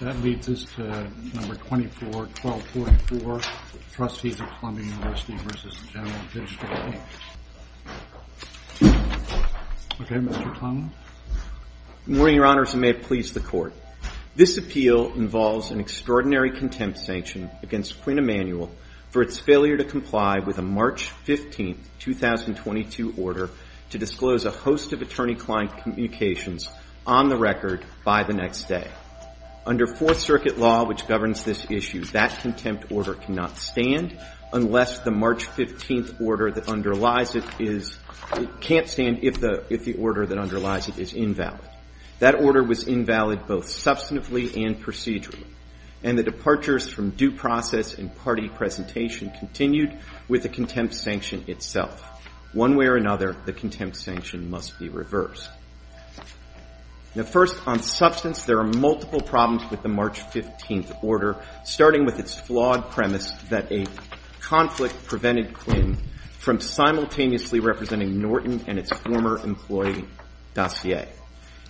That leads us to number 24, 1244, Trustees of Columbia University v. Gen Digital Inc. Okay, Mr. Clement. Good morning, Your Honors, and may it please the Court. This appeal involves an extraordinary contempt sanction against Quinn Emanuel for its failure to comply with a March 15, 2022 order to disclose a host of attorney-client communications on the record by the next day. Under Fourth Circuit law, which governs this issue, that contempt order cannot stand unless the March 15 order that underlies it is can't stand if the order that underlies it is invalid. That order was invalid both substantively and procedurally, and the departures from due process and party presentation continued with the contempt sanction itself. One way or another, the contempt sanction must be reversed. Now, first, on substance, there are multiple problems with the March 15 order, starting with its flawed premise that a conflict prevented Quinn from simultaneously representing Norton and its former employee, Dossier.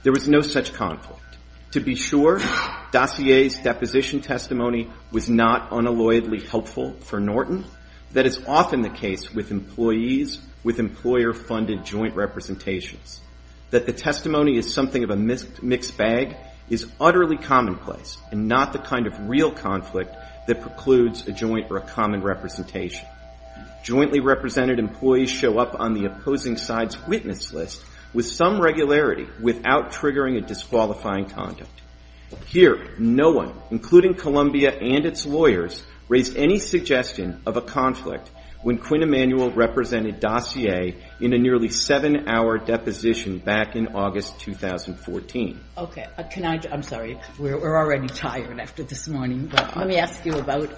There was no such conflict. To be sure, Dossier's deposition testimony was not unalloyedly helpful for Norton. That is often the case with employees with employer-funded joint representations. That the testimony is something of a mixed bag is utterly commonplace and not the kind of real conflict that precludes a joint or a common representation. Jointly represented employees show up on the opposing side's witness list with some regularity without triggering a disqualifying conduct. Here, no one, including Columbia and its lawyers, raised any suggestion of a conflict when Quinn Emanuel represented Dossier in a nearly seven-hour deposition back in August 2014. Okay. Can I, I'm sorry, we're already tired after this morning, but let me ask you about,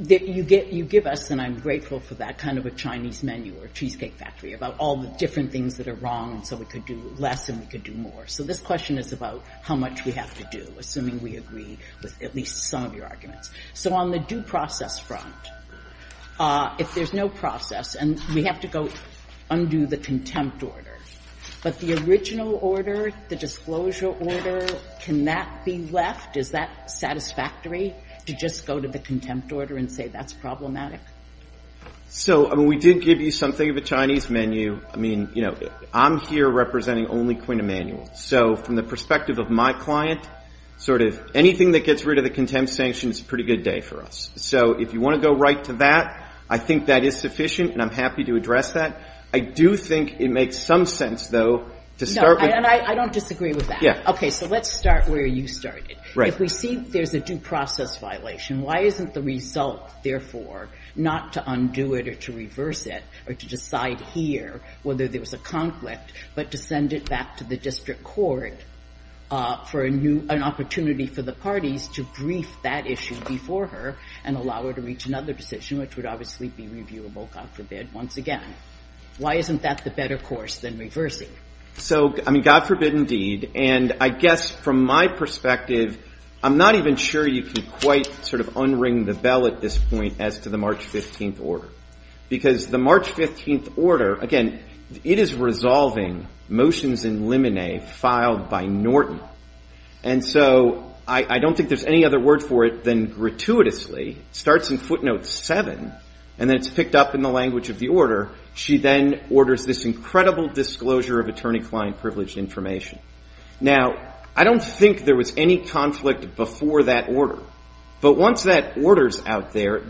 you give us, and I'm grateful for that, kind of a Chinese menu or cheesecake factory about all the different things that are wrong and so we could do less and we could do more. So this question is about how much we have to do, assuming we agree with at least some of your arguments. So on the due process front, if there's no process and we have to go undo the contempt order, but the original order, the disclosure order, can that be left? Is that satisfactory to just go to the contempt order and say that's problematic? So, I mean, we did give you something of a Chinese menu. I mean, you know, I'm here representing only Quinn Emanuel. So from the perspective of my client, sort of anything that gets rid of the contempt sanction is a pretty good day for us. So if you want to go right to that, I think that is sufficient and I'm happy to address that. I do think it makes some sense, though, to start with. No, and I don't disagree with that. Okay, so let's start where you started. If we see there's a due process violation, why isn't the result, therefore, not to undo it or to reverse it or to decide here whether there was a conflict, but to send it back to the district court for a new opportunity for the parties to brief that issue before her and allow her to reach another decision, which would obviously be reviewable, God forbid, once again. Why isn't that the better course than reversing? So, I mean, God forbid indeed, and I guess from my perspective, I'm not even sure you can quite sort of unring the bell at this point as to the March 15th order. Because the March 15th order, again, it is resolving motions in limine filed by Norton, and so I don't think there's any other word for it than gratuitously. It starts in footnote 7 and then it's picked up in the language of the order. She then orders this incredible disclosure of attorney-client privileged information. Now, I don't think there was any conflict before that order, but once that order's out there,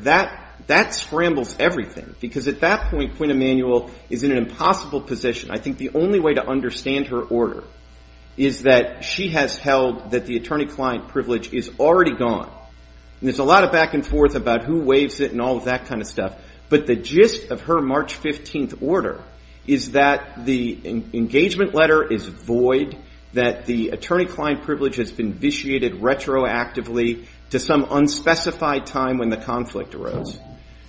that scrambles everything. Because at that point, Quinn Emanuel is in an impossible position. I think the only way to understand her order is that she has held that the attorney-client privilege is already gone. And there's a lot of back and forth about who waives it and all of that kind of stuff, but the gist of her March 15th order is that the engagement letter is void, that the attorney-client privilege has been vitiated retroactively to some unspecified time when the conflict arose.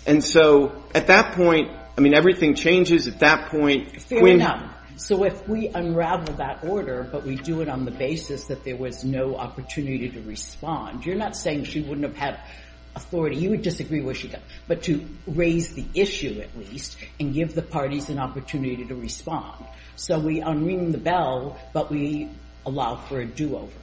And so at that point, I mean, everything changes at that point. Fair enough. So if we unravel that order, but we do it on the basis that there was no opportunity to respond, you're not saying she wouldn't have had authority. You would disagree where she got, but to raise the issue at least and give the parties an opportunity to respond. So we unring the bell, but we allow for a do-over.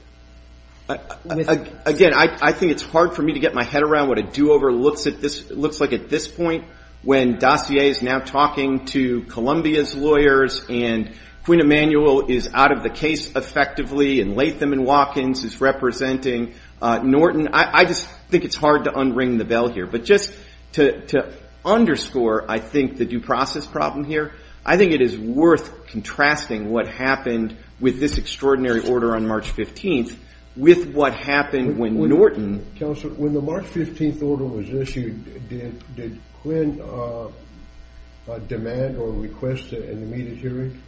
Again, I think it's hard for me to get my head around what a do-over looks like at this point, when Dossier is now talking to Columbia's lawyers and Quinn Emanuel is out of the case effectively and Latham & Watkins is representing Norton. I just think it's hard to unring the bell here. But just to underscore, I think, the due process problem here, I think it is worth contrasting what happened with this extraordinary order on March 15th with what happened when Norton... Counsel, when the March 15th order was issued, did Quinn demand or request an immediate hearing?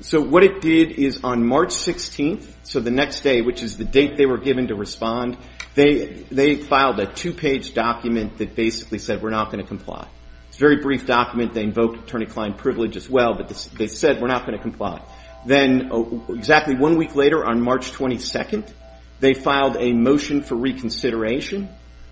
So what it did is on March 16th, so the next day, which is the date they were given to respond, they filed a two-page document that basically said, we're not going to comply. It's a very brief document. They invoked attorney-client privilege as well, but they said, we're not going to comply. Then exactly one week later, on March 22nd, they filed a motion for reconsideration,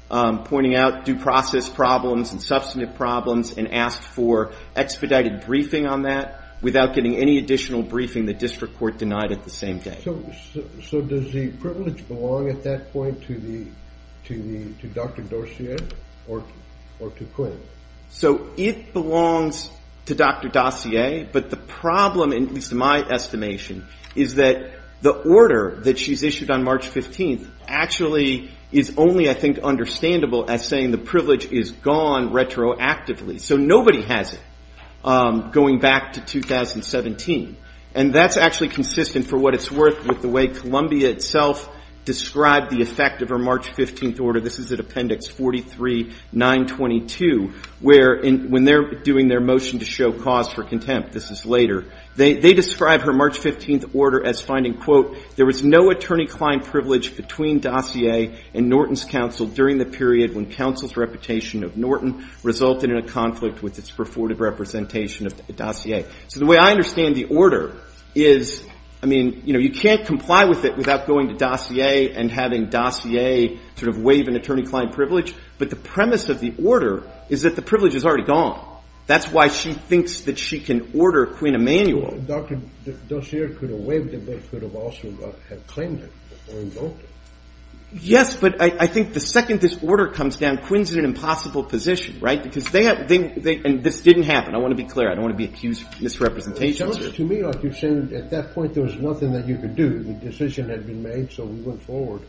pointing out due process problems and substantive problems and asked for expedited briefing on that without getting any additional briefing the district court denied at the same day. So does the privilege belong at that point to Dr. Dossier or to Quinn? So it belongs to Dr. Dossier, but the problem, at least in my estimation, is that the order that she's issued on March 15th actually is only, I think, understandable as saying the privilege is gone retroactively. So nobody has it going back to 2017. And that's actually consistent for what it's worth with the way Columbia itself described the effect of her March 15th order. This is at Appendix 43, 922, where when they're doing their motion to show cause for contempt, this is later, they describe her March 15th order as finding, quote, there was no attorney-client privilege between Dossier and Norton's counsel during the period when counsel's reputation of Norton resulted in a conflict with its purported representation of Dossier. So the way I understand the order is, I mean, you know, you can't comply with it without going to Dossier and having Dossier sort of waive an attorney-client privilege. But the premise of the order is that the privilege is already gone. That's why she thinks that she can order Quinn Emanuel. Dr. Dossier could have waived it, but could have also claimed it or invoked it. Yes, but I think the second this order comes down, Quinn's in an impossible position, right? Because they have – and this didn't happen. I want to be clear. I don't want to be accused of misrepresentation. It sounds to me like you're saying at that point there was nothing that you could do. The decision had been made, so we went forward.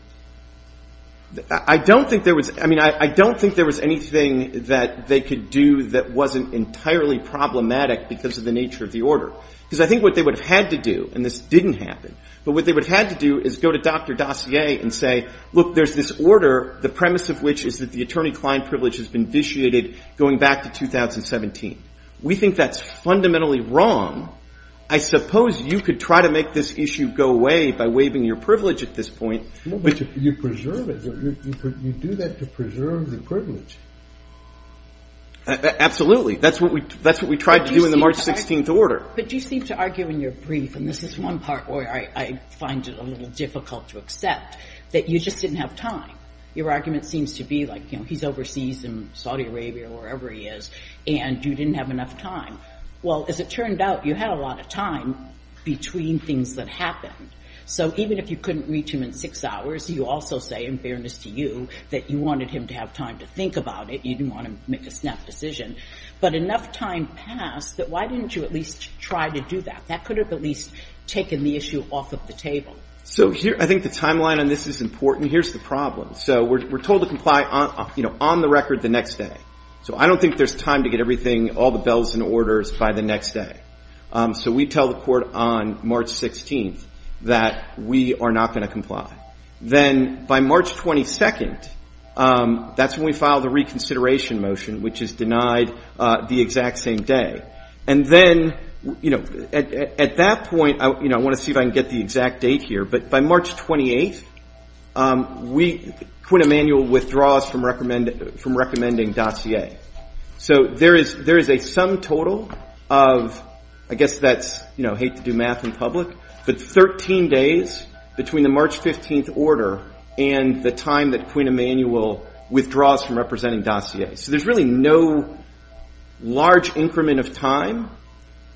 I don't think there was – I mean, I don't think there was anything that they could do that wasn't entirely problematic because of the nature of the order. Because I think what they would have had to do – and this didn't happen – but what they would have had to do is go to Dr. Dossier and say, look, there's this order, the premise of which is that the attorney-client privilege has been vitiated going back to 2017. We think that's fundamentally wrong. I suppose you could try to make this issue go away by waiving your privilege at this point. But you preserve it. You do that to preserve the privilege. Absolutely. That's what we tried to do in the March 16th order. But you seem to argue in your brief, and this is one part where I find it a little difficult to accept, that you just didn't have time. Your argument seems to be, like, he's overseas in Saudi Arabia or wherever he is, and you didn't have enough time. Well, as it turned out, you had a lot of time between things that happened. So even if you couldn't reach him in six hours, you also say, in fairness to you, that you wanted him to have time to think about it. You didn't want him to make a snap decision. But enough time passed that why didn't you at least try to do that? That could have at least taken the issue off of the table. So I think the timeline on this is important. Here's the problem. So we're told to comply on the record the next day. So I don't think there's time to get everything, all the bells and orders by the next day. So we tell the court on March 16th that we are not going to comply. Then by March 22nd, that's when we file the reconsideration motion, which is denied the exact same day. And then, you know, at that point, you know, I want to see if I can get the exact date here. But by March 28th, Quinn Emanuel withdraws from recommending dossier. So there is a sum total of, I guess that's, you know, hate to do math in public, but 13 days between the March 15th order and the time that Quinn Emanuel withdraws from representing dossier. So there's really no large increment of time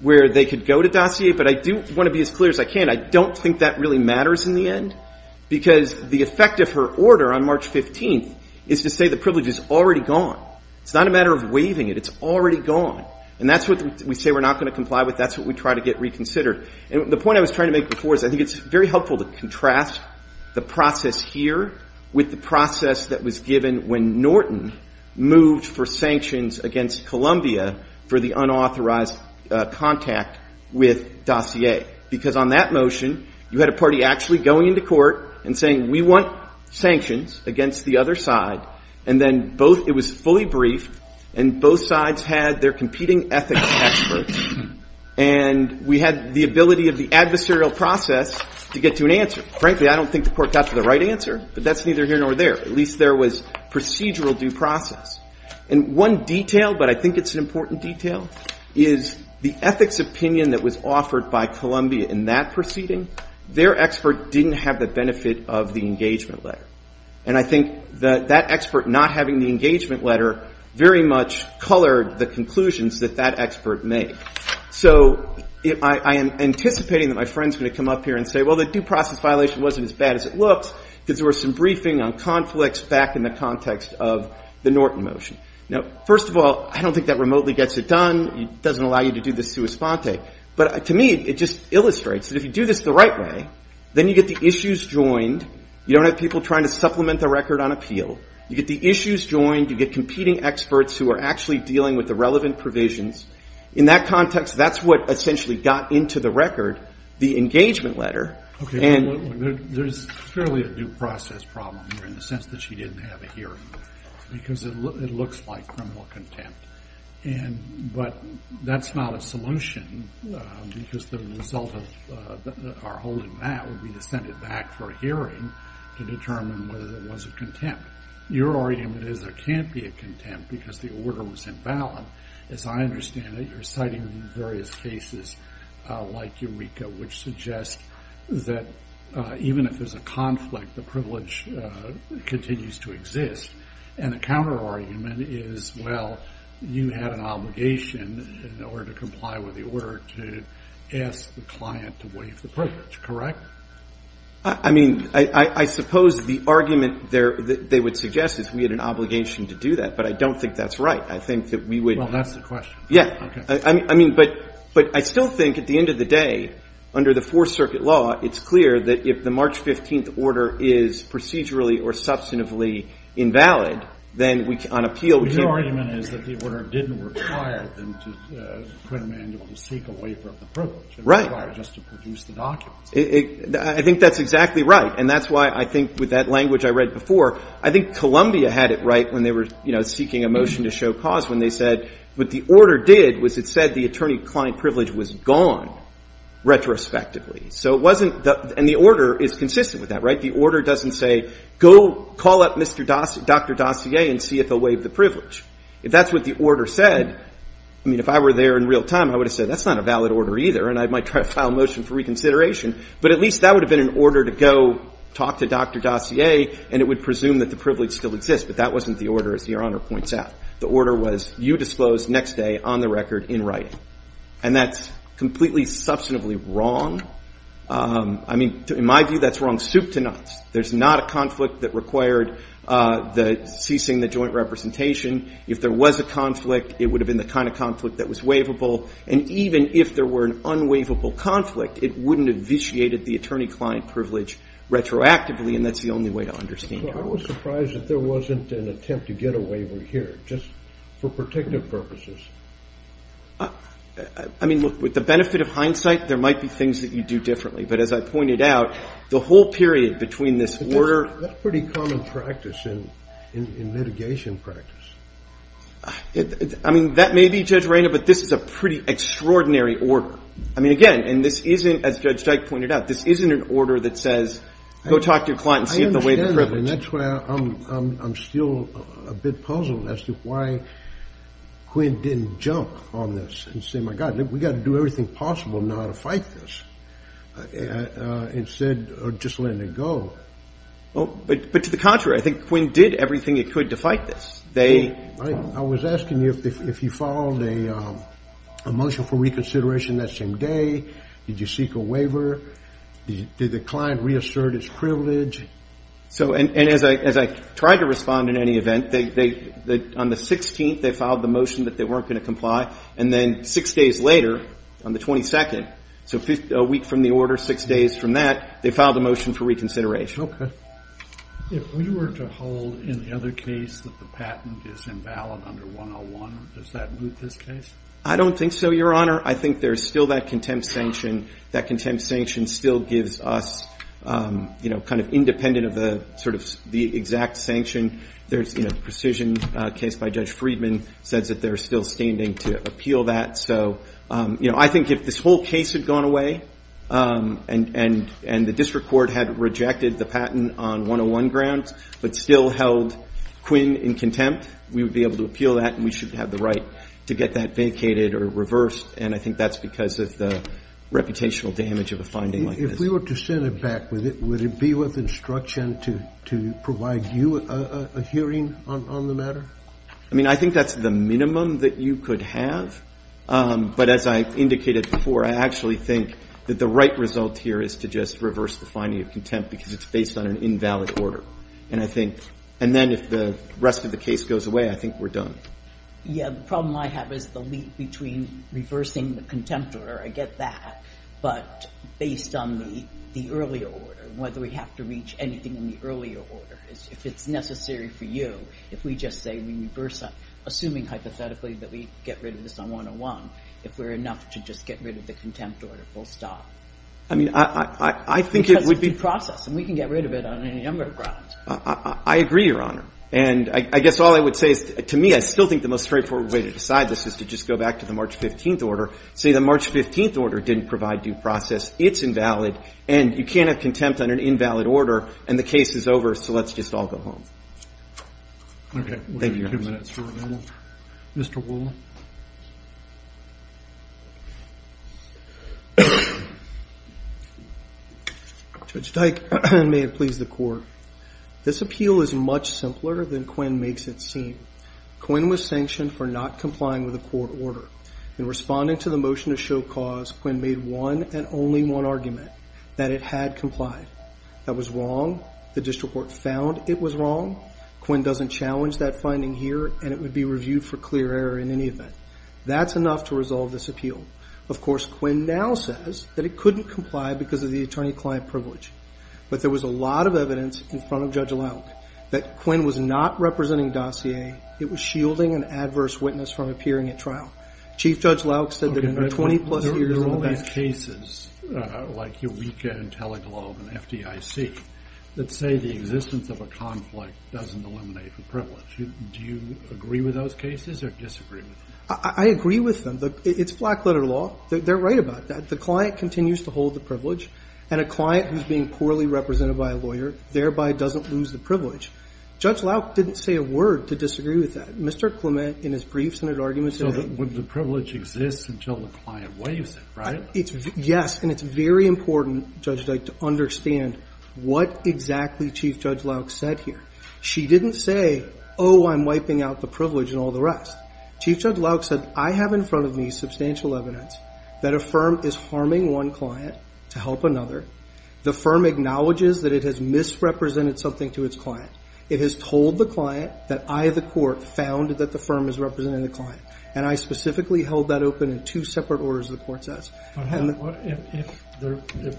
where they could go to dossier. But I do want to be as clear as I can. I don't think that really matters in the end because the effect of her order on March 15th is to say the privilege is already gone. It's not a matter of waiving it. It's already gone. And that's what we say we're not going to comply with. That's what we try to get reconsidered. And the point I was trying to make before is I think it's very helpful to contrast the process here with the process that was given when Norton moved for sanctions against Columbia for the unauthorized contact with dossier. Because on that motion, you had a party actually going into court and saying we want sanctions against the other side. And then both, it was fully brief, and both sides had their competing ethics experts. And we had the ability of the adversarial process to get to an answer. Frankly, I don't think the court got to the right answer, but that's neither here nor there. At least there was procedural due process. And one detail, but I think it's an important detail, is the ethics opinion that was offered by Columbia in that proceeding, their expert didn't have the benefit of the engagement letter. And I think that that expert not having the engagement letter very much colored the conclusions that that expert made. So I am anticipating that my friend's going to come up here and say, well, the due process violation wasn't as bad as it looks because there was some briefing on conflicts back in the context of the Norton motion. Now, first of all, I don't think that remotely gets it done. It doesn't allow you to do the sua sponte. But to me, it just illustrates that if you do this the right way, then you get the issues joined. You don't have people trying to supplement the record on appeal. You get the issues joined. You get competing experts who are actually dealing with the relevant provisions. In that context, that's what essentially got into the record, the engagement letter. There's clearly a due process problem here in the sense that she didn't have a hearing. Because it looks like criminal contempt. But that's not a solution because the result of our holding that would be to send it back for a hearing to determine whether there was a contempt. Your argument is there can't be a contempt because the order was invalid. As I understand it, you're citing various cases like Eureka, which suggests that even if there's a conflict, the privilege continues to exist. And the counterargument is, well, you had an obligation in order to comply with the order to ask the client to waive the privilege. Correct? I mean, I suppose the argument they would suggest is we had an obligation to do that. But I don't think that's right. I think that we would. Well, that's the question. Yeah. Okay. I mean, but I still think at the end of the day, under the Fourth Circuit law, it's clear that if the March 15th order is procedurally or substantively invalid, then on appeal we can. But your argument is that the order didn't require them to put a mandate to seek a waiver of the privilege. Right. It required just to produce the documents. I think that's exactly right. And that's why I think with that language I read before, I think Columbia had it right when they were, you know, seeking a motion to show cause when they said what the order did was it said the attorney-client privilege was gone retrospectively. So it wasn't and the order is consistent with that, right? The order doesn't say go call up Dr. Dossier and see if they'll waive the privilege. If that's what the order said, I mean, if I were there in real time, I would have said that's not a valid order either. And I might try to file a motion for reconsideration. But at least that would have been an order to go talk to Dr. Dossier and it would presume that the privilege still exists. But that wasn't the order, as Your Honor points out. The order was you disclose next day on the record in writing. And that's completely substantively wrong. I mean, in my view, that's wrong soup to nuts. There's not a conflict that required the ceasing the joint representation. If there was a conflict, it would have been the kind of conflict that was waivable. And even if there were an unwaivable conflict, it wouldn't have vitiated the attorney-client privilege retroactively. And that's the only way to understand it. I was surprised that there wasn't an attempt to get a waiver here just for protective purposes. I mean, look, with the benefit of hindsight, there might be things that you do differently. But as I pointed out, the whole period between this order. That's pretty common practice in mitigation practice. I mean, that may be, Judge Reyna, but this is a pretty extraordinary order. I mean, again, and this isn't, as Judge Dyke pointed out, this isn't an order that says go talk to your client and see if the waiver prevails. I understand, and that's why I'm still a bit puzzled as to why Quinn didn't jump on this and say, my God, we've got to do everything possible now to fight this instead of just letting it go. But to the contrary, I think Quinn did everything it could to fight this. I was asking you if you followed a motion for reconsideration that same day. Did you seek a waiver? Did the client reassert its privilege? And as I tried to respond in any event, on the 16th, they filed the motion that they weren't going to comply. And then six days later, on the 22nd, so a week from the order, six days from that, they filed a motion for reconsideration. If we were to hold in the other case that the patent is invalid under 101, does that move this case? I don't think so, Your Honor. I think there's still that contempt sanction. That contempt sanction still gives us kind of independent of the exact sanction. There's a precision case by Judge Friedman says that they're still standing to appeal that. I think if this whole case had gone away and the district court had rejected the patent on 101 grounds but still held Quinn in contempt, we would be able to appeal that and we should have the right to get that vacated or reversed. And I think that's because of the reputational damage of a finding like this. If we were to send it back, would it be with instruction to provide you a hearing on the matter? I mean, I think that's the minimum that you could have. But as I indicated before, I actually think that the right result here is to just reverse the finding of contempt because it's based on an invalid order. And I think and then if the rest of the case goes away, I think we're done. Yeah, the problem I have is the leap between reversing the contempt order. I get that. But based on the earlier order, whether we have to reach anything in the earlier order, if it's necessary for you, if we just say we reverse it, assuming hypothetically that we get rid of this on 101, if we're enough to just get rid of the contempt order, we'll stop. I mean, I think it would be. Because it's due process and we can get rid of it on any number of grounds. I agree, Your Honor. And I guess all I would say is to me, I still think the most straightforward way to decide this is to just go back to the March 15th order, say the March 15th order didn't provide due process, it's invalid, and you can't have contempt on an invalid order and the case is over, so let's just all go home. Okay. Thank you, Your Honor. We have two minutes remaining. Mr. Wool. Judge Dyke, may it please the Court. This appeal is much simpler than Quinn makes it seem. Quinn was sanctioned for not complying with the court order. In responding to the motion to show cause, Quinn made one and only one argument, that it had complied. That was wrong. The district court found it was wrong. Quinn doesn't challenge that finding here and it would be reviewed for clear error in any event. That's enough to resolve this appeal. Of course, Quinn now says that it couldn't comply because of the attorney-client privilege. But there was a lot of evidence in front of Judge Leung that Quinn was not representing dossier, it was shielding an adverse witness from appearing at trial. Chief Judge Lauk said that in the 20-plus years of the batch. There are all these cases, like Eureka and Teleglobe and FDIC, that say the existence of a conflict doesn't eliminate the privilege. Do you agree with those cases or disagree with them? I agree with them. It's black-letter law. They're right about that. The client continues to hold the privilege, and a client who's being poorly represented by a lawyer thereby doesn't lose the privilege. Judge Lauk didn't say a word to disagree with that. Mr. Clement, in his briefs and at arguments today. So the privilege exists until the client waives it, right? Yes, and it's very important, Judge Dyke, to understand what exactly Chief Judge Lauk said here. She didn't say, oh, I'm wiping out the privilege and all the rest. Chief Judge Lauk said, I have in front of me substantial evidence that a firm is harming one client to help another. The firm acknowledges that it has misrepresented something to its client. It has told the client that I, the court, found that the firm is representing the client, and I specifically held that open in two separate orders, the court says. If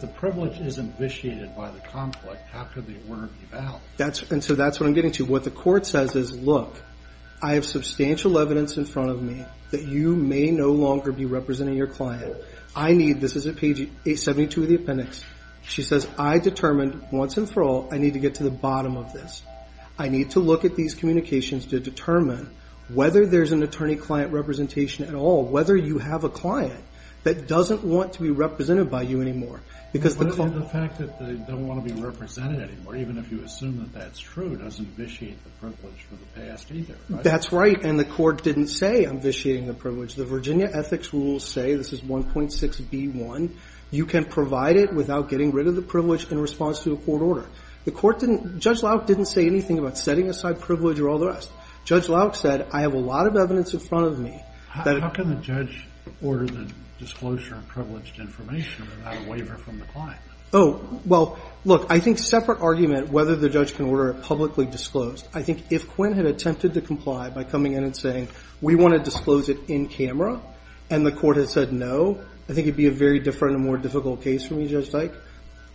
the privilege is invitiated by the conflict, how could the order be valid? And so that's what I'm getting to. What the court says is, look, I have substantial evidence in front of me that you may no longer be representing your client. So I need, this is at page 72 of the appendix. She says, I determined once and for all I need to get to the bottom of this. I need to look at these communications to determine whether there's an attorney-client representation at all, whether you have a client that doesn't want to be represented by you anymore. The fact that they don't want to be represented anymore, even if you assume that that's true, doesn't vitiate the privilege for the past either, right? That's right, and the court didn't say, I'm vitiating the privilege. The Virginia Ethics Rules say, this is 1.6b1, you can provide it without getting rid of the privilege in response to a court order. The court didn't, Judge Lauck didn't say anything about setting aside privilege or all the rest. Judge Lauck said, I have a lot of evidence in front of me. How can the judge order the disclosure of privileged information without a waiver from the client? Oh, well, look, I think separate argument whether the judge can order it publicly disclosed. I think if Quinn had attempted to comply by coming in and saying, we want to disclose it in camera, and the court had said no, I think it would be a very different and more difficult case for me, Judge Dyke.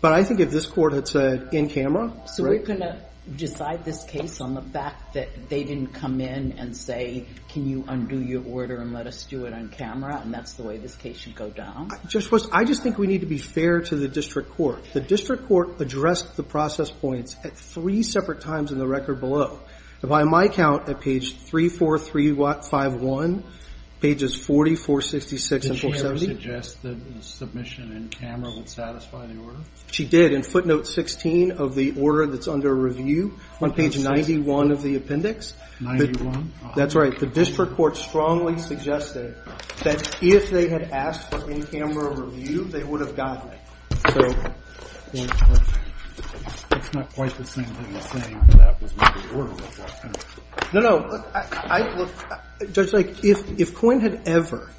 But I think if this court had said in camera, right? So we're going to decide this case on the fact that they didn't come in and say, can you undo your order and let us do it on camera, and that's the way this case should go down? Judge West, I just think we need to be fair to the district court. The district court addressed the process points at three separate times in the record below. By my count, at page 34351, pages 40, 466, and 470. Did she ever suggest that the submission in camera would satisfy the order? She did. In footnote 16 of the order that's under review, on page 91 of the appendix. 91? That's right. The district court strongly suggested that if they had asked for in camera review, they would have gotten it. So it's not quite the same thing as saying that was not the order. No, no. Judge Dyke, if Quinn had ever,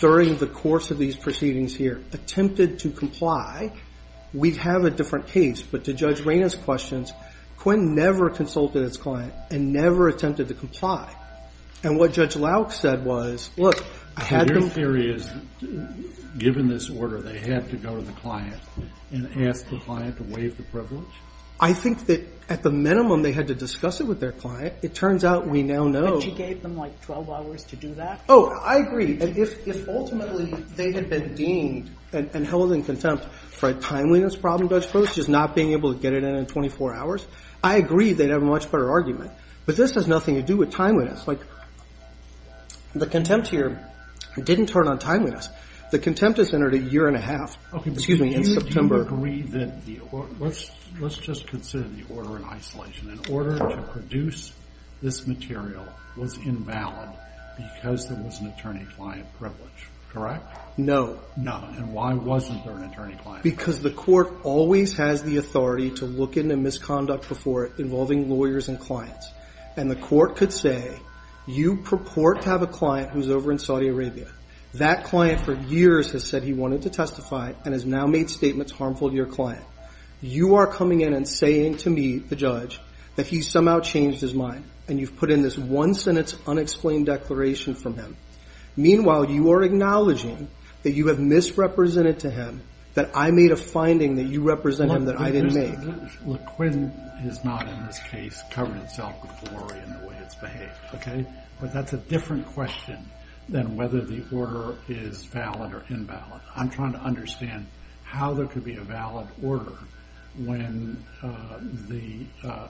during the course of these proceedings here, attempted to comply, we'd have a different case. But to Judge Rayna's questions, Quinn never consulted his client and never attempted to comply. And what Judge Lauck said was, look, I had them. So my theory is, given this order, they had to go to the client and ask the client to waive the privilege? I think that, at the minimum, they had to discuss it with their client. It turns out we now know. But she gave them, like, 12 hours to do that? Oh, I agree. And if ultimately they had been deemed and held in contempt for a timeliness problem, Judge Brooks, just not being able to get it in in 24 hours, I agree they'd have a much better argument. But this has nothing to do with timeliness. Like, the contempt here didn't turn on timeliness. The contempt has entered a year and a half. Okay. Excuse me, in September. Do you agree that the – let's just consider the order in isolation. An order to produce this material was invalid because there was an attorney-client privilege, correct? No. No. And why wasn't there an attorney-client? Because the court always has the authority to look into misconduct before involving lawyers and clients. And the court could say, you purport to have a client who's over in Saudi Arabia. That client for years has said he wanted to testify and has now made statements harmful to your client. You are coming in and saying to me, the judge, that he somehow changed his mind. And you've put in this one-sentence, unexplained declaration from him. Meanwhile, you are acknowledging that you have misrepresented to him that I made a finding that you represent him that I didn't make. Look, Quinn is not in this case covering himself with glory in the way it's behaved, okay? But that's a different question than whether the order is valid or invalid. I'm trying to understand how there could be a valid order when the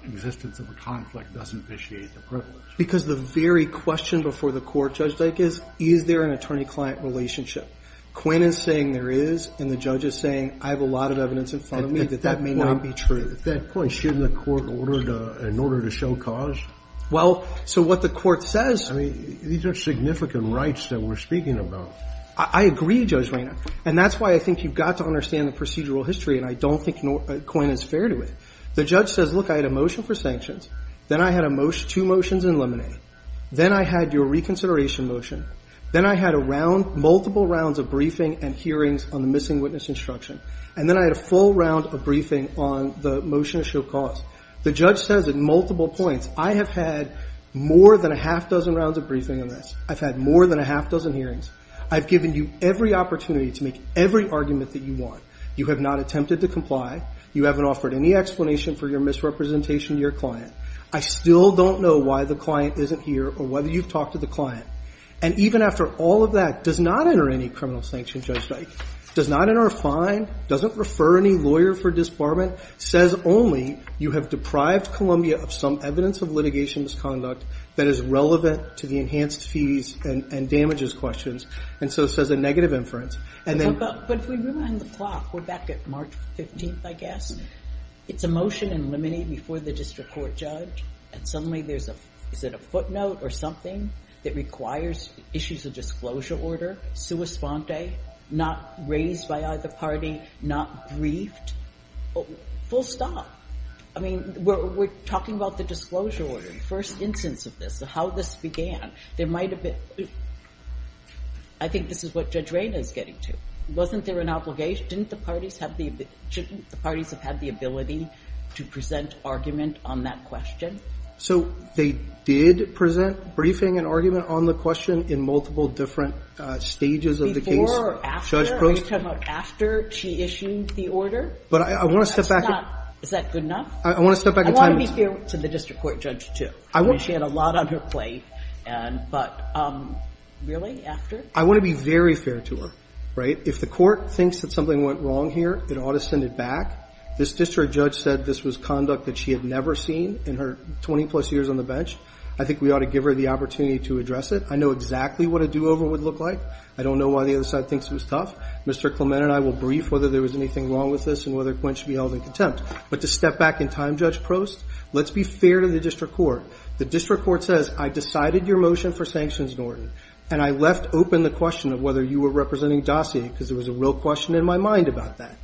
existence of a conflict doesn't vitiate the privilege. Because the very question before the court, Judge Dyke, is, is there an attorney-client relationship? Quinn is saying there is, and the judge is saying, I have allotted evidence in front of me that that may not be true. So at that point, shouldn't the court order to, in order to show cause? Well, so what the court says. I mean, these are significant rights that we're speaking about. I agree, Judge Rayner. And that's why I think you've got to understand the procedural history, and I don't think Quinn is fair to it. The judge says, look, I had a motion for sanctions. Then I had a motion, two motions in lemonade. Then I had your reconsideration motion. Then I had a round, multiple rounds of briefing and hearings on the missing witness instruction. And then I had a full round of briefing on the motion to show cause. The judge says at multiple points, I have had more than a half dozen rounds of briefing on this. I've had more than a half dozen hearings. I've given you every opportunity to make every argument that you want. You have not attempted to comply. You haven't offered any explanation for your misrepresentation to your client. I still don't know why the client isn't here or whether you've talked to the client. And even after all of that, does not enter any criminal sanction, Judge Dyke. Does not enter a fine, doesn't refer any lawyer for disbarment. Says only, you have deprived Columbia of some evidence of litigation misconduct that is relevant to the enhanced fees and damages questions. And so it says a negative inference. But if we rewind the clock, we're back at March 15th, I guess. It's a motion in lemonade before the district court judge. And suddenly there's a, is it a footnote or something that requires issues of disclosure order? Not raised by either party, not briefed. Full stop. I mean, we're talking about the disclosure order, the first instance of this, how this began. There might have been, I think this is what Judge Raina is getting to. Wasn't there an obligation? Didn't the parties have the, shouldn't the parties have had the ability to present argument on that question? So they did present briefing and argument on the question in multiple different stages of the case. Before or after? I'm just talking about after she issued the order. But I want to step back. Is that good enough? I want to step back in time. I want to be fair to the district court judge, too. She had a lot on her plate. But really, after? I want to be very fair to her, right? If the court thinks that something went wrong here, it ought to send it back. This district judge said this was conduct that she had never seen in her 20-plus years on the bench. I think we ought to give her the opportunity to address it. I know exactly what a do-over would look like. I don't know why the other side thinks it was tough. Mr. Clement and I will brief whether there was anything wrong with this and whether Quint should be held in contempt. But to step back in time, Judge Prost, let's be fair to the district court. The district court says, I decided your motion for sanctions in order, and I left open the question of whether you were representing Dossier because there was a real question in my mind about that.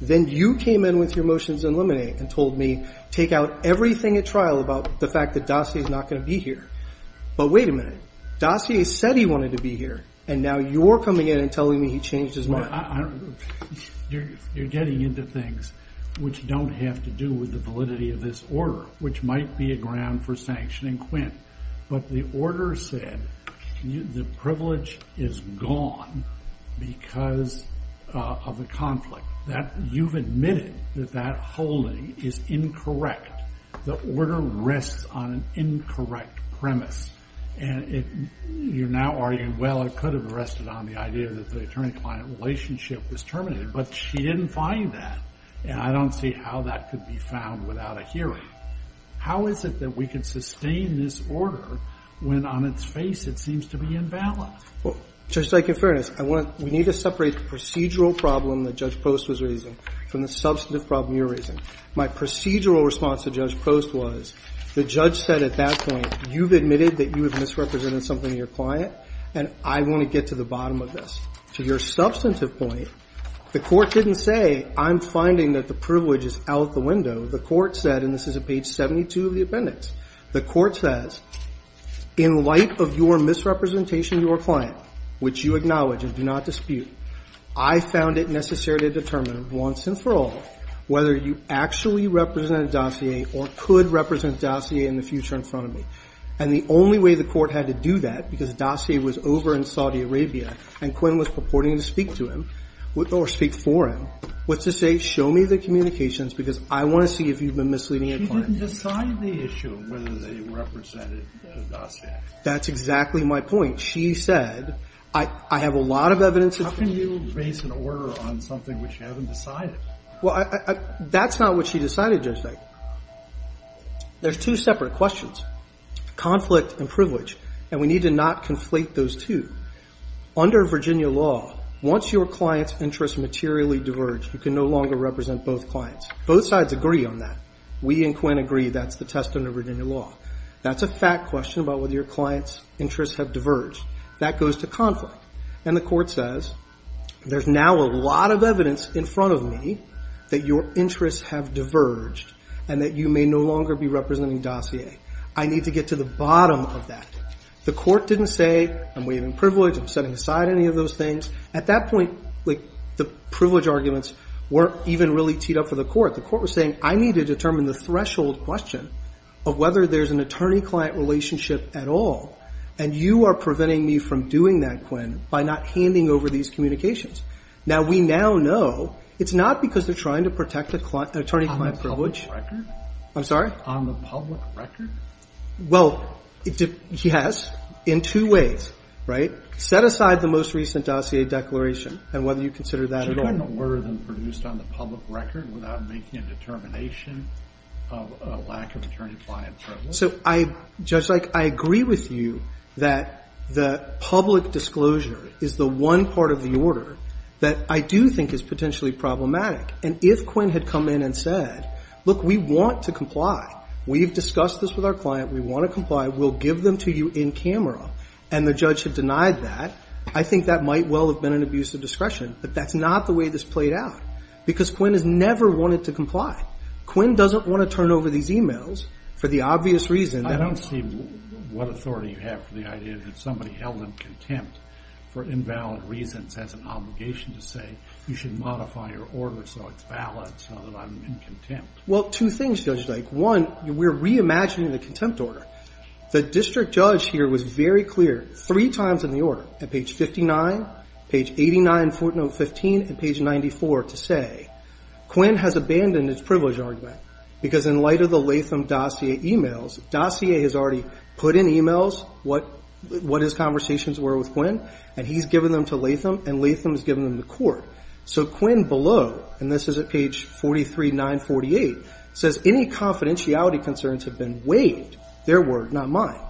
Then you came in with your motions in limine and told me, take out everything at trial about the fact that Dossier is not going to be here. But wait a minute. Dossier said he wanted to be here, and now you're coming in and telling me he changed his mind. You're getting into things which don't have to do with the validity of this order, which might be a ground for sanctioning Quint. But the order said the privilege is gone because of the conflict. You've admitted that that holding is incorrect. The order rests on an incorrect premise. And you're now arguing, well, I could have rested on the idea that the attorney-client relationship was terminated, but she didn't find that, and I don't see how that could be found without a hearing. How is it that we can sustain this order when on its face it seems to be invalid? Well, Judge Dike, in fairness, I want to – we need to separate the procedural problem that Judge Post was raising from the substantive problem you're raising. My procedural response to Judge Post was the judge said at that point, you've admitted that you have misrepresented something to your client, and I want to get to the bottom of this. To your substantive point, the court didn't say, I'm finding that the privilege is out the window. The court said, and this is at page 72 of the appendix, the court says, in light of your misrepresentation of your client, which you acknowledge and do not dispute, I found it necessary to determine once and for all whether you actually represent a dossier or could represent a dossier in the future in front of me. And the only way the court had to do that, because a dossier was over in Saudi Arabia and Quinn was purporting to speak to him or speak for him, was to say, show me the communications because I want to see if you've been misleading a client. She didn't decide the issue of whether they represented the dossier. That's exactly my point. She said, I have a lot of evidence. How can you base an order on something which you haven't decided? Well, that's not what she decided, Judge Dike. There's two separate questions, conflict and privilege, and we need to not conflate those two. Under Virginia law, once your client's interests materially diverge, you can no longer represent both clients. Both sides agree on that. We and Quinn agree that's the test under Virginia law. That's a fact question about whether your client's interests have diverged. That goes to conflict, and the court says, there's now a lot of evidence in front of me that your interests have diverged and that you may no longer be representing dossier. I need to get to the bottom of that. The court didn't say, I'm waiving privilege, I'm setting aside any of those things. At that point, the privilege arguments weren't even really teed up for the court. The court was saying, I need to determine the threshold question of whether there's an attorney-client relationship at all, and you are preventing me from doing that, Quinn, by not handing over these communications. Now, we now know it's not because they're trying to protect an attorney-client privilege. On the public record? Well, yes, in two ways, right? Set aside the most recent dossier declaration and whether you consider that at all. Should I know more than produced on the public record without making a determination of a lack of attorney-client privilege? So, Judge Ike, I agree with you that the public disclosure is the one part of the order that I do think is potentially problematic, and if Quinn had come in and said, look, we want to comply. We've discussed this with our client. We want to comply. We'll give them to you in camera, and the judge had denied that. I think that might well have been an abuse of discretion, but that's not the way this played out because Quinn has never wanted to comply. Quinn doesn't want to turn over these e-mails for the obvious reason. I don't see what authority you have for the idea that somebody held in contempt for invalid reasons has an obligation to say you should modify your order so it's valid, so that I'm in contempt. Well, two things, Judge Ike. One, we're reimagining the contempt order. The district judge here was very clear three times in the order, at page 59, page 89, footnote 15, and page 94, to say Quinn has abandoned his privilege argument because in light of the Latham dossier e-mails, dossier has already put in e-mails what his conversations were with Quinn, and he's given them to Latham, and Latham has given them to court. So Quinn below, and this is at page 43, 948, says any confidentiality concerns have been waived, their word, not mine.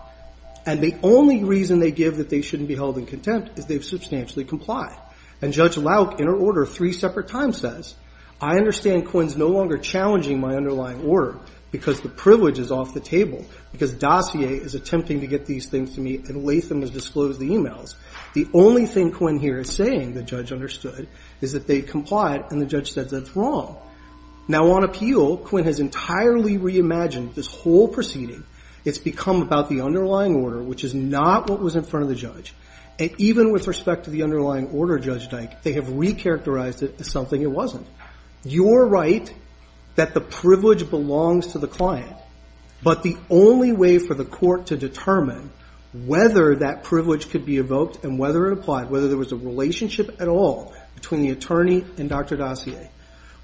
And the only reason they give that they shouldn't be held in contempt is they've substantially complied. And Judge Lauck, in her order three separate times, says, I understand Quinn's no longer challenging my underlying order because the privilege is off the table, because dossier is attempting to get these things to me, and Latham has disclosed the e-mails. The only thing Quinn here is saying, the judge understood, is that they've complied, and the judge says that's wrong. Now, on appeal, Quinn has entirely reimagined this whole proceeding. It's become about the underlying order, which is not what was in front of the judge. And even with respect to the underlying order, Judge Dyke, they have recharacterized it as something it wasn't. You're right that the privilege belongs to the client, but the only way for the court to determine whether that privilege could be evoked and whether it applied, whether there was a relationship at all between the attorney and Dr. Dossier,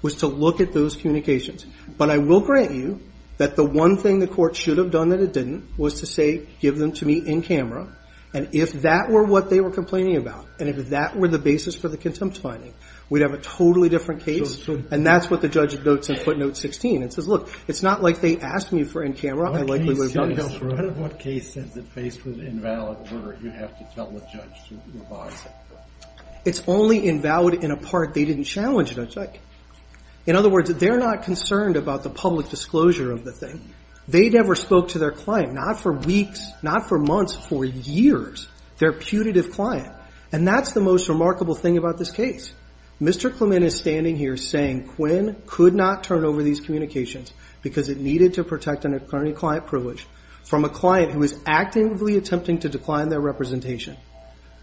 was to look at those communications. But I will grant you that the one thing the court should have done that it didn't was to say, give them to me in camera, and if that were what they were complaining about, and if that were the basis for the contempt finding, we'd have a totally different case, and that's what the judge notes in footnote 16. It says, look, it's not like they asked me for in camera. In front of what case says it faced with invalid order, you'd have to tell the judge to revise it. It's only invalid in a part they didn't challenge, Judge Dyke. In other words, they're not concerned about the public disclosure of the thing. They never spoke to their client, not for weeks, not for months, for years, their putative client. And that's the most remarkable thing about this case. Mr. Clement is standing here saying Quinn could not turn over these communications because it needed to protect an attorney-client privilege from a client who was actively attempting to decline their representation,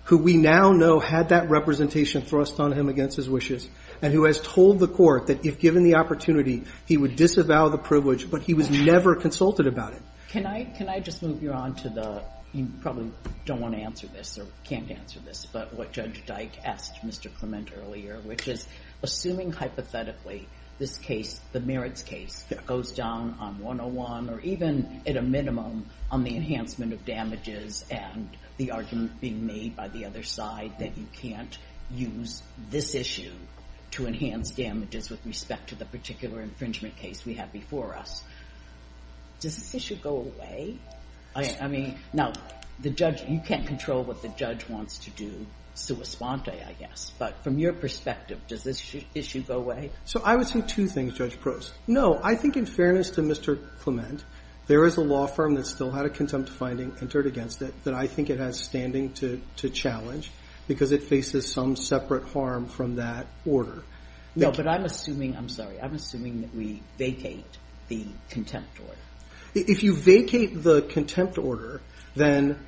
who we now know had that representation thrust on him against his wishes, and who has told the court that if given the opportunity, he would disavow the privilege, but he was never consulted about it. Can I just move you on to the you probably don't want to answer this or can't answer this, but what Judge Dyke asked Mr. Clement earlier, which is assuming hypothetically this case, the merits case, goes down on 101 or even at a minimum on the enhancement of damages and the argument being made by the other side that you can't use this issue to enhance damages with respect to the particular infringement case we have before us. Does this issue go away? I mean, now, the judge, you can't control what the judge wants to do, sua sponte, I guess. But from your perspective, does this issue go away? So I would say two things, Judge Prost. No, I think in fairness to Mr. Clement, there is a law firm that still had a contempt finding entered against it that I think it has standing to challenge because it faces some separate harm from that order. No, but I'm assuming, I'm sorry, I'm assuming that we vacate the contempt order. If you vacate the contempt order, then,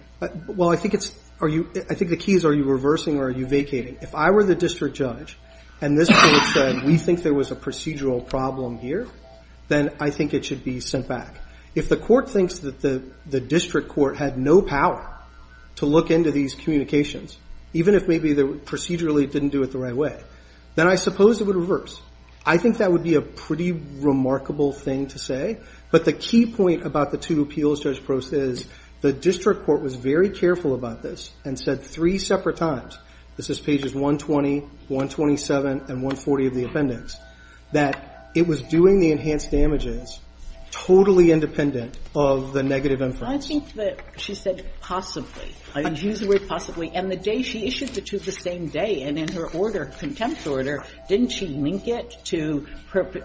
well, I think the key is are you reversing or are you vacating? If I were the district judge and this court said we think there was a procedural problem here, then I think it should be sent back. If the court thinks that the district court had no power to look into these communications, even if maybe they procedurally didn't do it the right way, then I suppose it would reverse. I think that would be a pretty remarkable thing to say. But the key point about the two appeals, Judge Prost, is the district court was very careful about this and said three separate times, this is pages 120, 127, and 140 of the appendix, that it was doing the enhanced damages totally independent of the negative inference. I think that she said possibly. I didn't use the word possibly. And the day she issued the two the same day and in her order, contempt order, didn't she link it to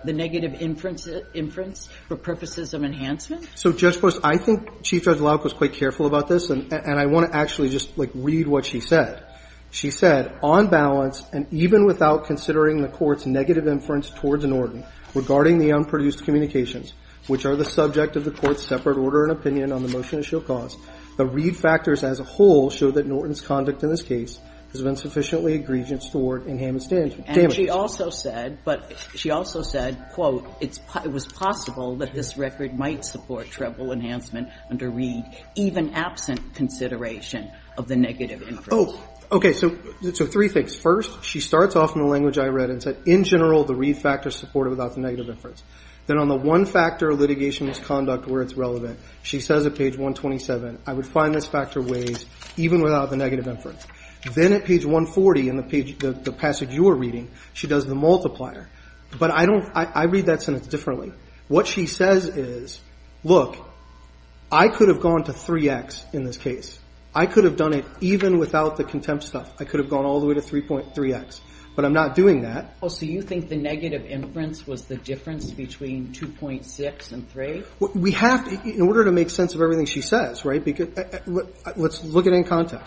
the negative inference for purposes of enhancement? So, Judge Prost, I think Chief Judge Lauk was quite careful about this, and I want to actually just, like, read what she said. She said, On balance, and even without considering the court's negative inference towards Norton regarding the unproduced communications, which are the subject of the court's separate order and opinion on the motion at show cause, the read factors as a whole show that Norton's conduct in this case has been sufficiently egregious toward enhanced damages. And she also said, but she also said, quote, it was possible that this record might support treble enhancement under read, even absent consideration of the negative inference. Oh, okay. So three things. First, she starts off in the language I read and said, in general, the read factors supported without the negative inference. Then on the one factor of litigation misconduct where it's relevant, she says at page 127, I would find this factor weighs even without the negative inference. Then at page 140 in the passage you were reading, she does the multiplier. But I read that sentence differently. What she says is, look, I could have gone to 3X in this case. I could have done it even without the contempt stuff. I could have gone all the way to 3.3X. But I'm not doing that. So you think the negative inference was the difference between 2.6 and 3? We have, in order to make sense of everything she says, right, let's look at it in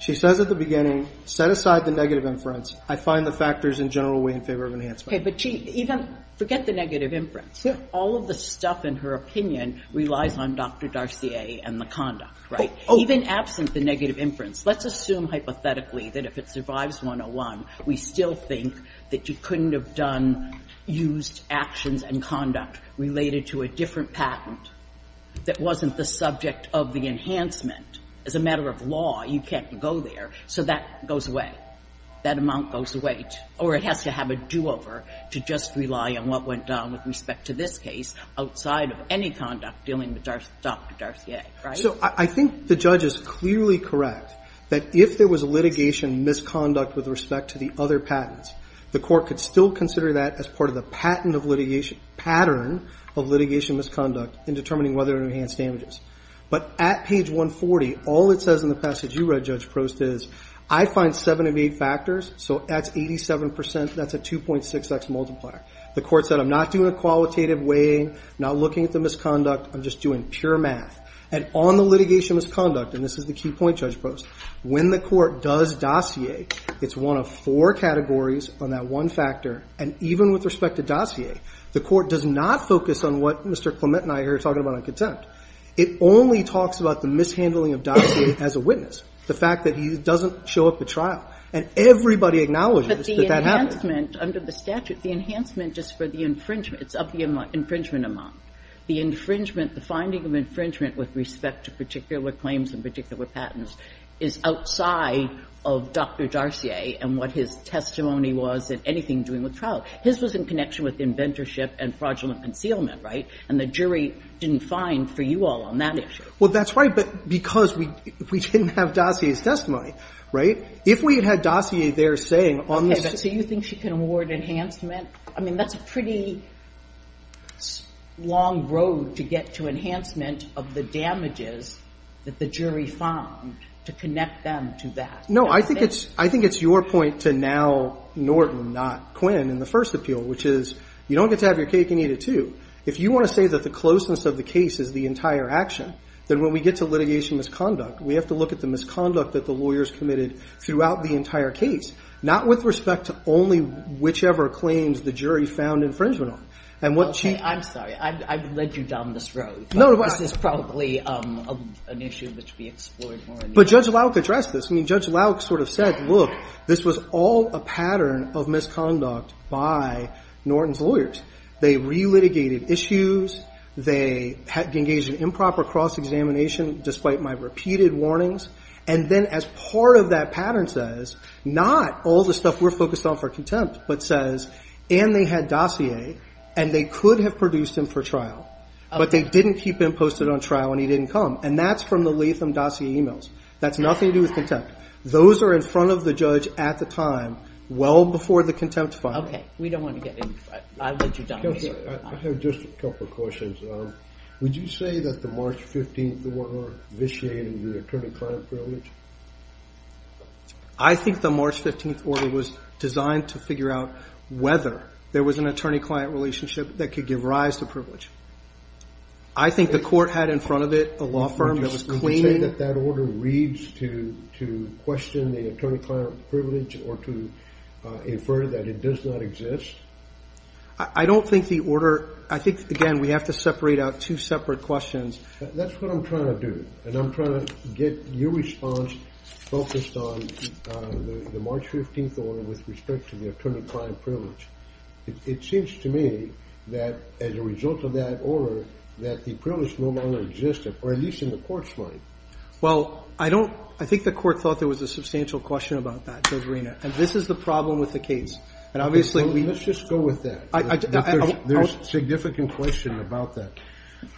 She says at the beginning, set aside the negative inference. I find the factors in general weigh in favor of enhancement. Okay. But even forget the negative inference. All of the stuff in her opinion relies on Dr. Darcier and the conduct, right? Even absent the negative inference, let's assume hypothetically that if it survives 101, we still think that you couldn't have done used actions and conduct related to a different patent that wasn't the subject of the enhancement. As a matter of law, you can't go there. So that goes away. That amount goes away. Or it has to have a do-over to just rely on what went down with respect to this case outside of any conduct dealing with Dr. Darcier, right? So I think the judge is clearly correct that if there was litigation misconduct with respect to the other patents, the Court could still consider that as part of the patent of litigation, pattern of litigation misconduct in determining whether to enhance damages. But at page 140, all it says in the passage you read, Judge Prost, is I find seven of eight factors. So that's 87%. That's a 2.6x multiplier. The Court said I'm not doing a qualitative weighing, not looking at the misconduct. I'm just doing pure math. And on the litigation misconduct, and this is the key point, Judge Prost, when the Court does dossier, it's one of four categories on that one factor. And even with respect to dossier, the Court does not focus on what Mr. Clement and I are talking about on contempt. It only talks about the mishandling of dossier as a witness, the fact that he doesn't show up at trial. And everybody acknowledges that that happens. But the enhancement under the statute, the enhancement is for the infringement of the infringement amount. The infringement, the finding of infringement with respect to particular claims and particular patents is outside of Dr. Darcier and what his testimony was in anything doing with trial. His was in connection with inventorship and fraudulent concealment, right? And the jury didn't find for you all on that issue. Well, that's right. But because we didn't have Darcier's testimony, right? If we had had Darcier there saying on the statute. So you think she can award enhancement? I mean, that's a pretty long road to get to enhancement of the damages that the jury found to connect them to that. No. I think it's your point to now Norton, not Quinn, in the first appeal, which is you don't get to have your cake and eat it, too. If you want to say that the closeness of the case is the entire action, then when we get to litigation misconduct, we have to look at the misconduct that the lawyers committed throughout the entire case, not with respect to only whichever claims the jury found infringement on. And what she. I'm sorry. I've led you down this road. No. This is probably an issue that should be explored more. But Judge Lauck addressed this. I mean, Judge Lauck sort of said, look, this was all a pattern of misconduct by Norton's lawyers. They relitigated issues. They engaged in improper cross-examination, despite my repeated warnings. And then as part of that pattern says, not all the stuff we're focused on for contempt, but says, and they had dossier, and they could have produced him for trial, but they didn't keep him posted on trial and he didn't come. And that's from the Latham dossier emails. That's nothing to do with contempt. Those are in front of the judge at the time, well before the contempt finding. Okay. We don't want to get into that. I've led you down this road. Counselor, I have just a couple of questions. Would you say that the March 15th order vitiated the attorney-client privilege? I think the March 15th order was designed to figure out whether there was an attorney-client relationship that could give rise to privilege. I think the court had in front of it a law firm that was claiming. Would you say that that order reads to question the attorney-client privilege or to infer that it does not exist? I don't think the order, I think, again, we have to separate out two separate questions. That's what I'm trying to do. And I'm trying to get your response focused on the March 15th order with respect to the attorney-client privilege. It seems to me that as a result of that order, that the privilege no longer existed, or at least in the court's mind. Well, I don't. I think the court thought there was a substantial question about that, Judge And this is the problem with the case. And obviously we. Let's just go with that. There's a significant question about that.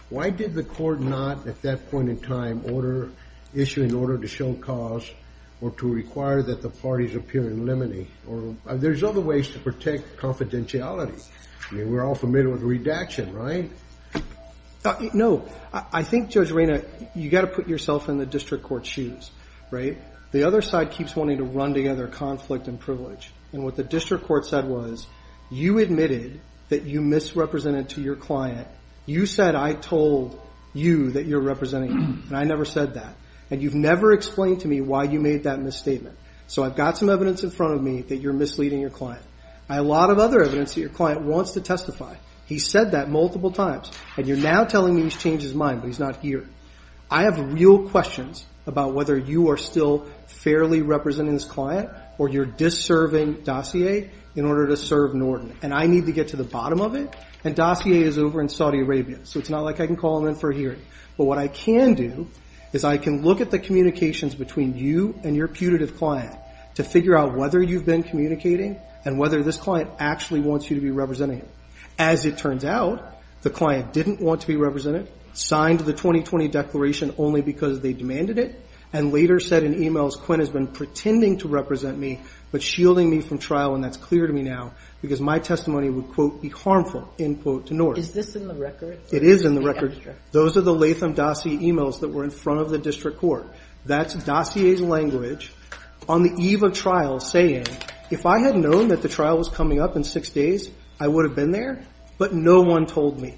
Why did the court not at that point in time issue an order to show cause or to require that the parties appear in limine? There's other ways to protect confidentiality. I mean, we're all familiar with redaction, right? No. I think, Judge Raina, you've got to put yourself in the district court's shoes, right? The other side keeps wanting to run together conflict and privilege. And what the district court said was, you admitted that you misrepresented to your client. You said I told you that you're representing me. And I never said that. And you've never explained to me why you made that misstatement. So I've got some evidence in front of me that you're misleading your client. I have a lot of other evidence that your client wants to testify. He's said that multiple times. And you're now telling me he's changed his mind, but he's not here. I have real questions about whether you are still fairly representing this client or you're disserving dossier in order to serve Norton. And I need to get to the bottom of it. And dossier is over in Saudi Arabia. So it's not like I can call him in for a hearing. But what I can do is I can look at the communications between you and your putative client to figure out whether you've been communicating and whether this client actually wants you to be representing him. As it turns out, the client didn't want to be represented, signed the 2020 declaration only because they demanded it, and later said in emails, Quinn has been pretending to represent me but shielding me from trial. And that's clear to me now because my testimony would, quote, be harmful, end quote, to Norton. Is this in the record? It is in the record. Those are the Latham dossier emails that were in front of the district court. That's dossier's language on the eve of trial saying, if I had known that the trial was coming up in six days, I would have been there. But no one told me.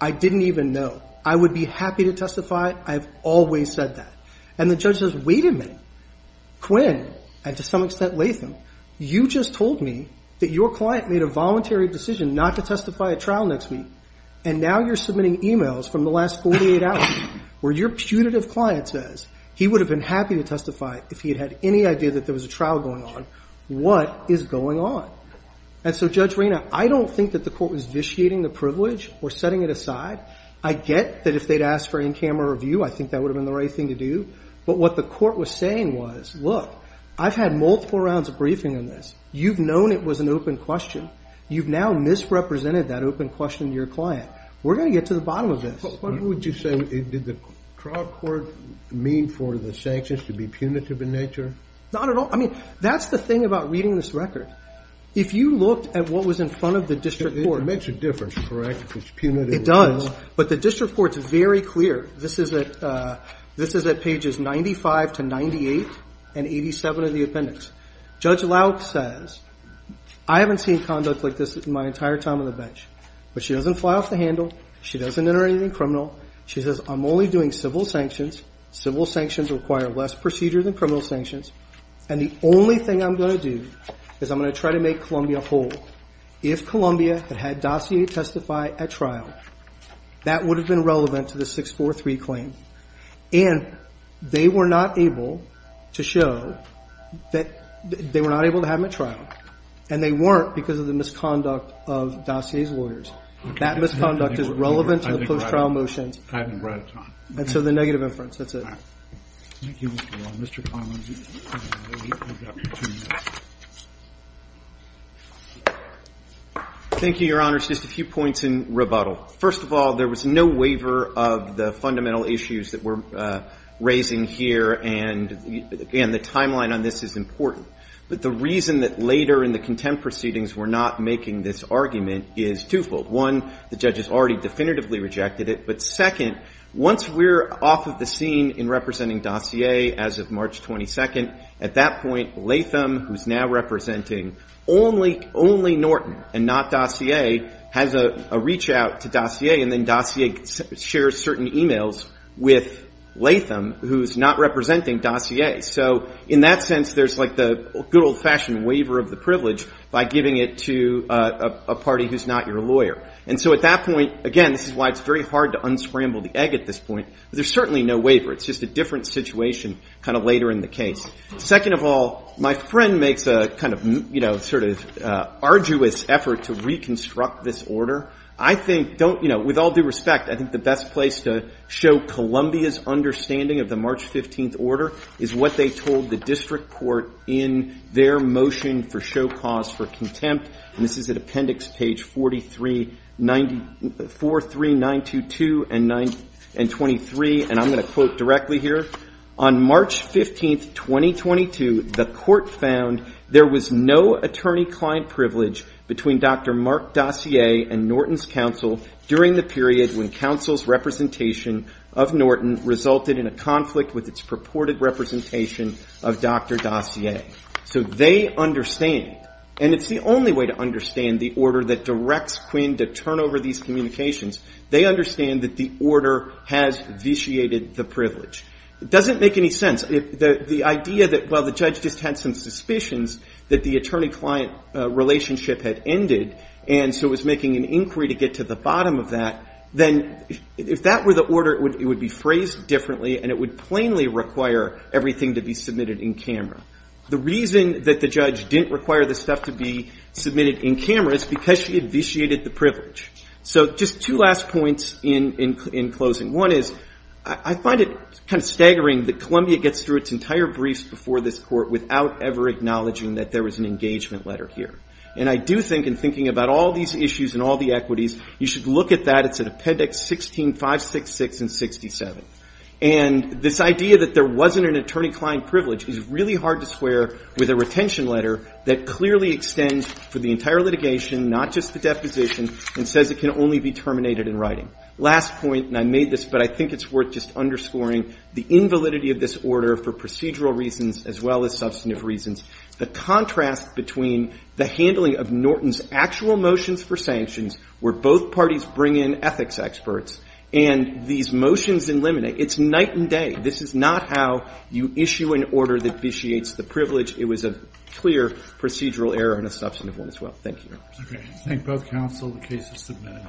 I didn't even know. I would be happy to testify. I've always said that. And the judge says, wait a minute. Quinn, and to some extent Latham, you just told me that your client made a voluntary decision not to testify at trial next week. And now you're submitting emails from the last 48 hours where your putative client says he would have been happy to testify if he had any idea that there was a trial going on. What is going on? And so, Judge Rayner, I don't think that the court was vitiating the privilege or setting it aside. I get that if they'd asked for in-camera review, I think that would have been the right thing to do. But what the court was saying was, look, I've had multiple rounds of briefing on this. You've known it was an open question. You've now misrepresented that open question to your client. We're going to get to the bottom of this. What would you say did the trial court mean for the sanctions to be punitive in nature? Not at all. I mean, that's the thing about reading this record. If you looked at what was in front of the district court. It makes a difference, correct? It's punitive. It does. But the district court's very clear. This is at pages 95 to 98 and 87 of the appendix. Judge Lauk says, I haven't seen conduct like this in my entire time on the But she doesn't fly off the handle. She doesn't enter anything criminal. She says, I'm only doing civil sanctions. Civil sanctions require less procedure than criminal sanctions. And the only thing I'm going to do is I'm going to try to make Columbia whole. If Columbia had had Dossier testify at trial, that would have been relevant to the 643 claim. And they were not able to show that they were not able to have him at trial. And they weren't because of the misconduct of Dossier's lawyers. That misconduct is relevant to the post-trial motions. I haven't read it. And so the negative inference, that's it. Thank you, Mr. Long. Mr. Conlon, you've got two minutes. Thank you, Your Honors. Just a few points in rebuttal. First of all, there was no waiver of the fundamental issues that we're raising here. And the timeline on this is important. But the reason that later in the contempt proceedings we're not making this argument is twofold. One, the judge has already definitively rejected it. But second, once we're off of the scene in representing Dossier as of March 22nd, at that point, Latham, who's now representing only Norton and not Dossier, has a reach-out to Dossier. And then Dossier shares certain emails with Latham, who's not representing Dossier. So in that sense, there's like the good old-fashioned waiver of the privilege by giving it to a party who's not your lawyer. And so at that point, again, this is why it's very hard to unscramble the egg at this point. But there's certainly no waiver. It's just a different situation kind of later in the case. Second of all, my friend makes a kind of, you know, sort of arduous effort to reconstruct this order. I think don't, you know, with all due respect, I think the best place to show Columbia's understanding of the March 15th order is what they told the district court in their motion for show cause for contempt. And this is at appendix page 43, 43922 and 923. And I'm going to quote directly here. On March 15th, 2022, the court found there was no attorney-client privilege between Dr. Mark Dossier and Norton's counsel during the period when counsel's representation of Norton resulted in a conflict with its purported representation of Dr. Dossier. So they understand. And it's the only way to understand the order that directs Quinn to turn over these communications. They understand that the order has vitiated the privilege. It doesn't make any sense. The idea that while the judge just had some suspicions that the attorney-client relationship had ended and so was making an inquiry to get to the bottom of that, then if that were the order, it would be phrased differently and it would plainly require everything to be submitted in camera. The reason that the judge didn't require this stuff to be submitted in camera is because she had vitiated the privilege. So just two last points in closing. One is, I find it kind of staggering that Columbia gets through its entire briefs before this court without ever acknowledging that there was an engagement letter here. And I do think in thinking about all these issues and all the equities, you should look at that. It's at appendix 16, 566 and 67. And this idea that there wasn't an attorney-client privilege is really hard to swear with a retention letter that clearly extends for the entire litigation, not just the deposition, and says it can only be terminated in writing. Last point, and I made this, but I think it's worth just underscoring the invalidity of this order for procedural reasons as well as substantive reasons. The contrast between the handling of Norton's actual motions for sanctions, where both parties bring in ethics experts, and these motions in limine. It's night and day. This is not how you issue an order that vitiates the privilege. It was a clear procedural error and a substantive one as well. Thank you. Okay. Thank both counsel. The case is submitted.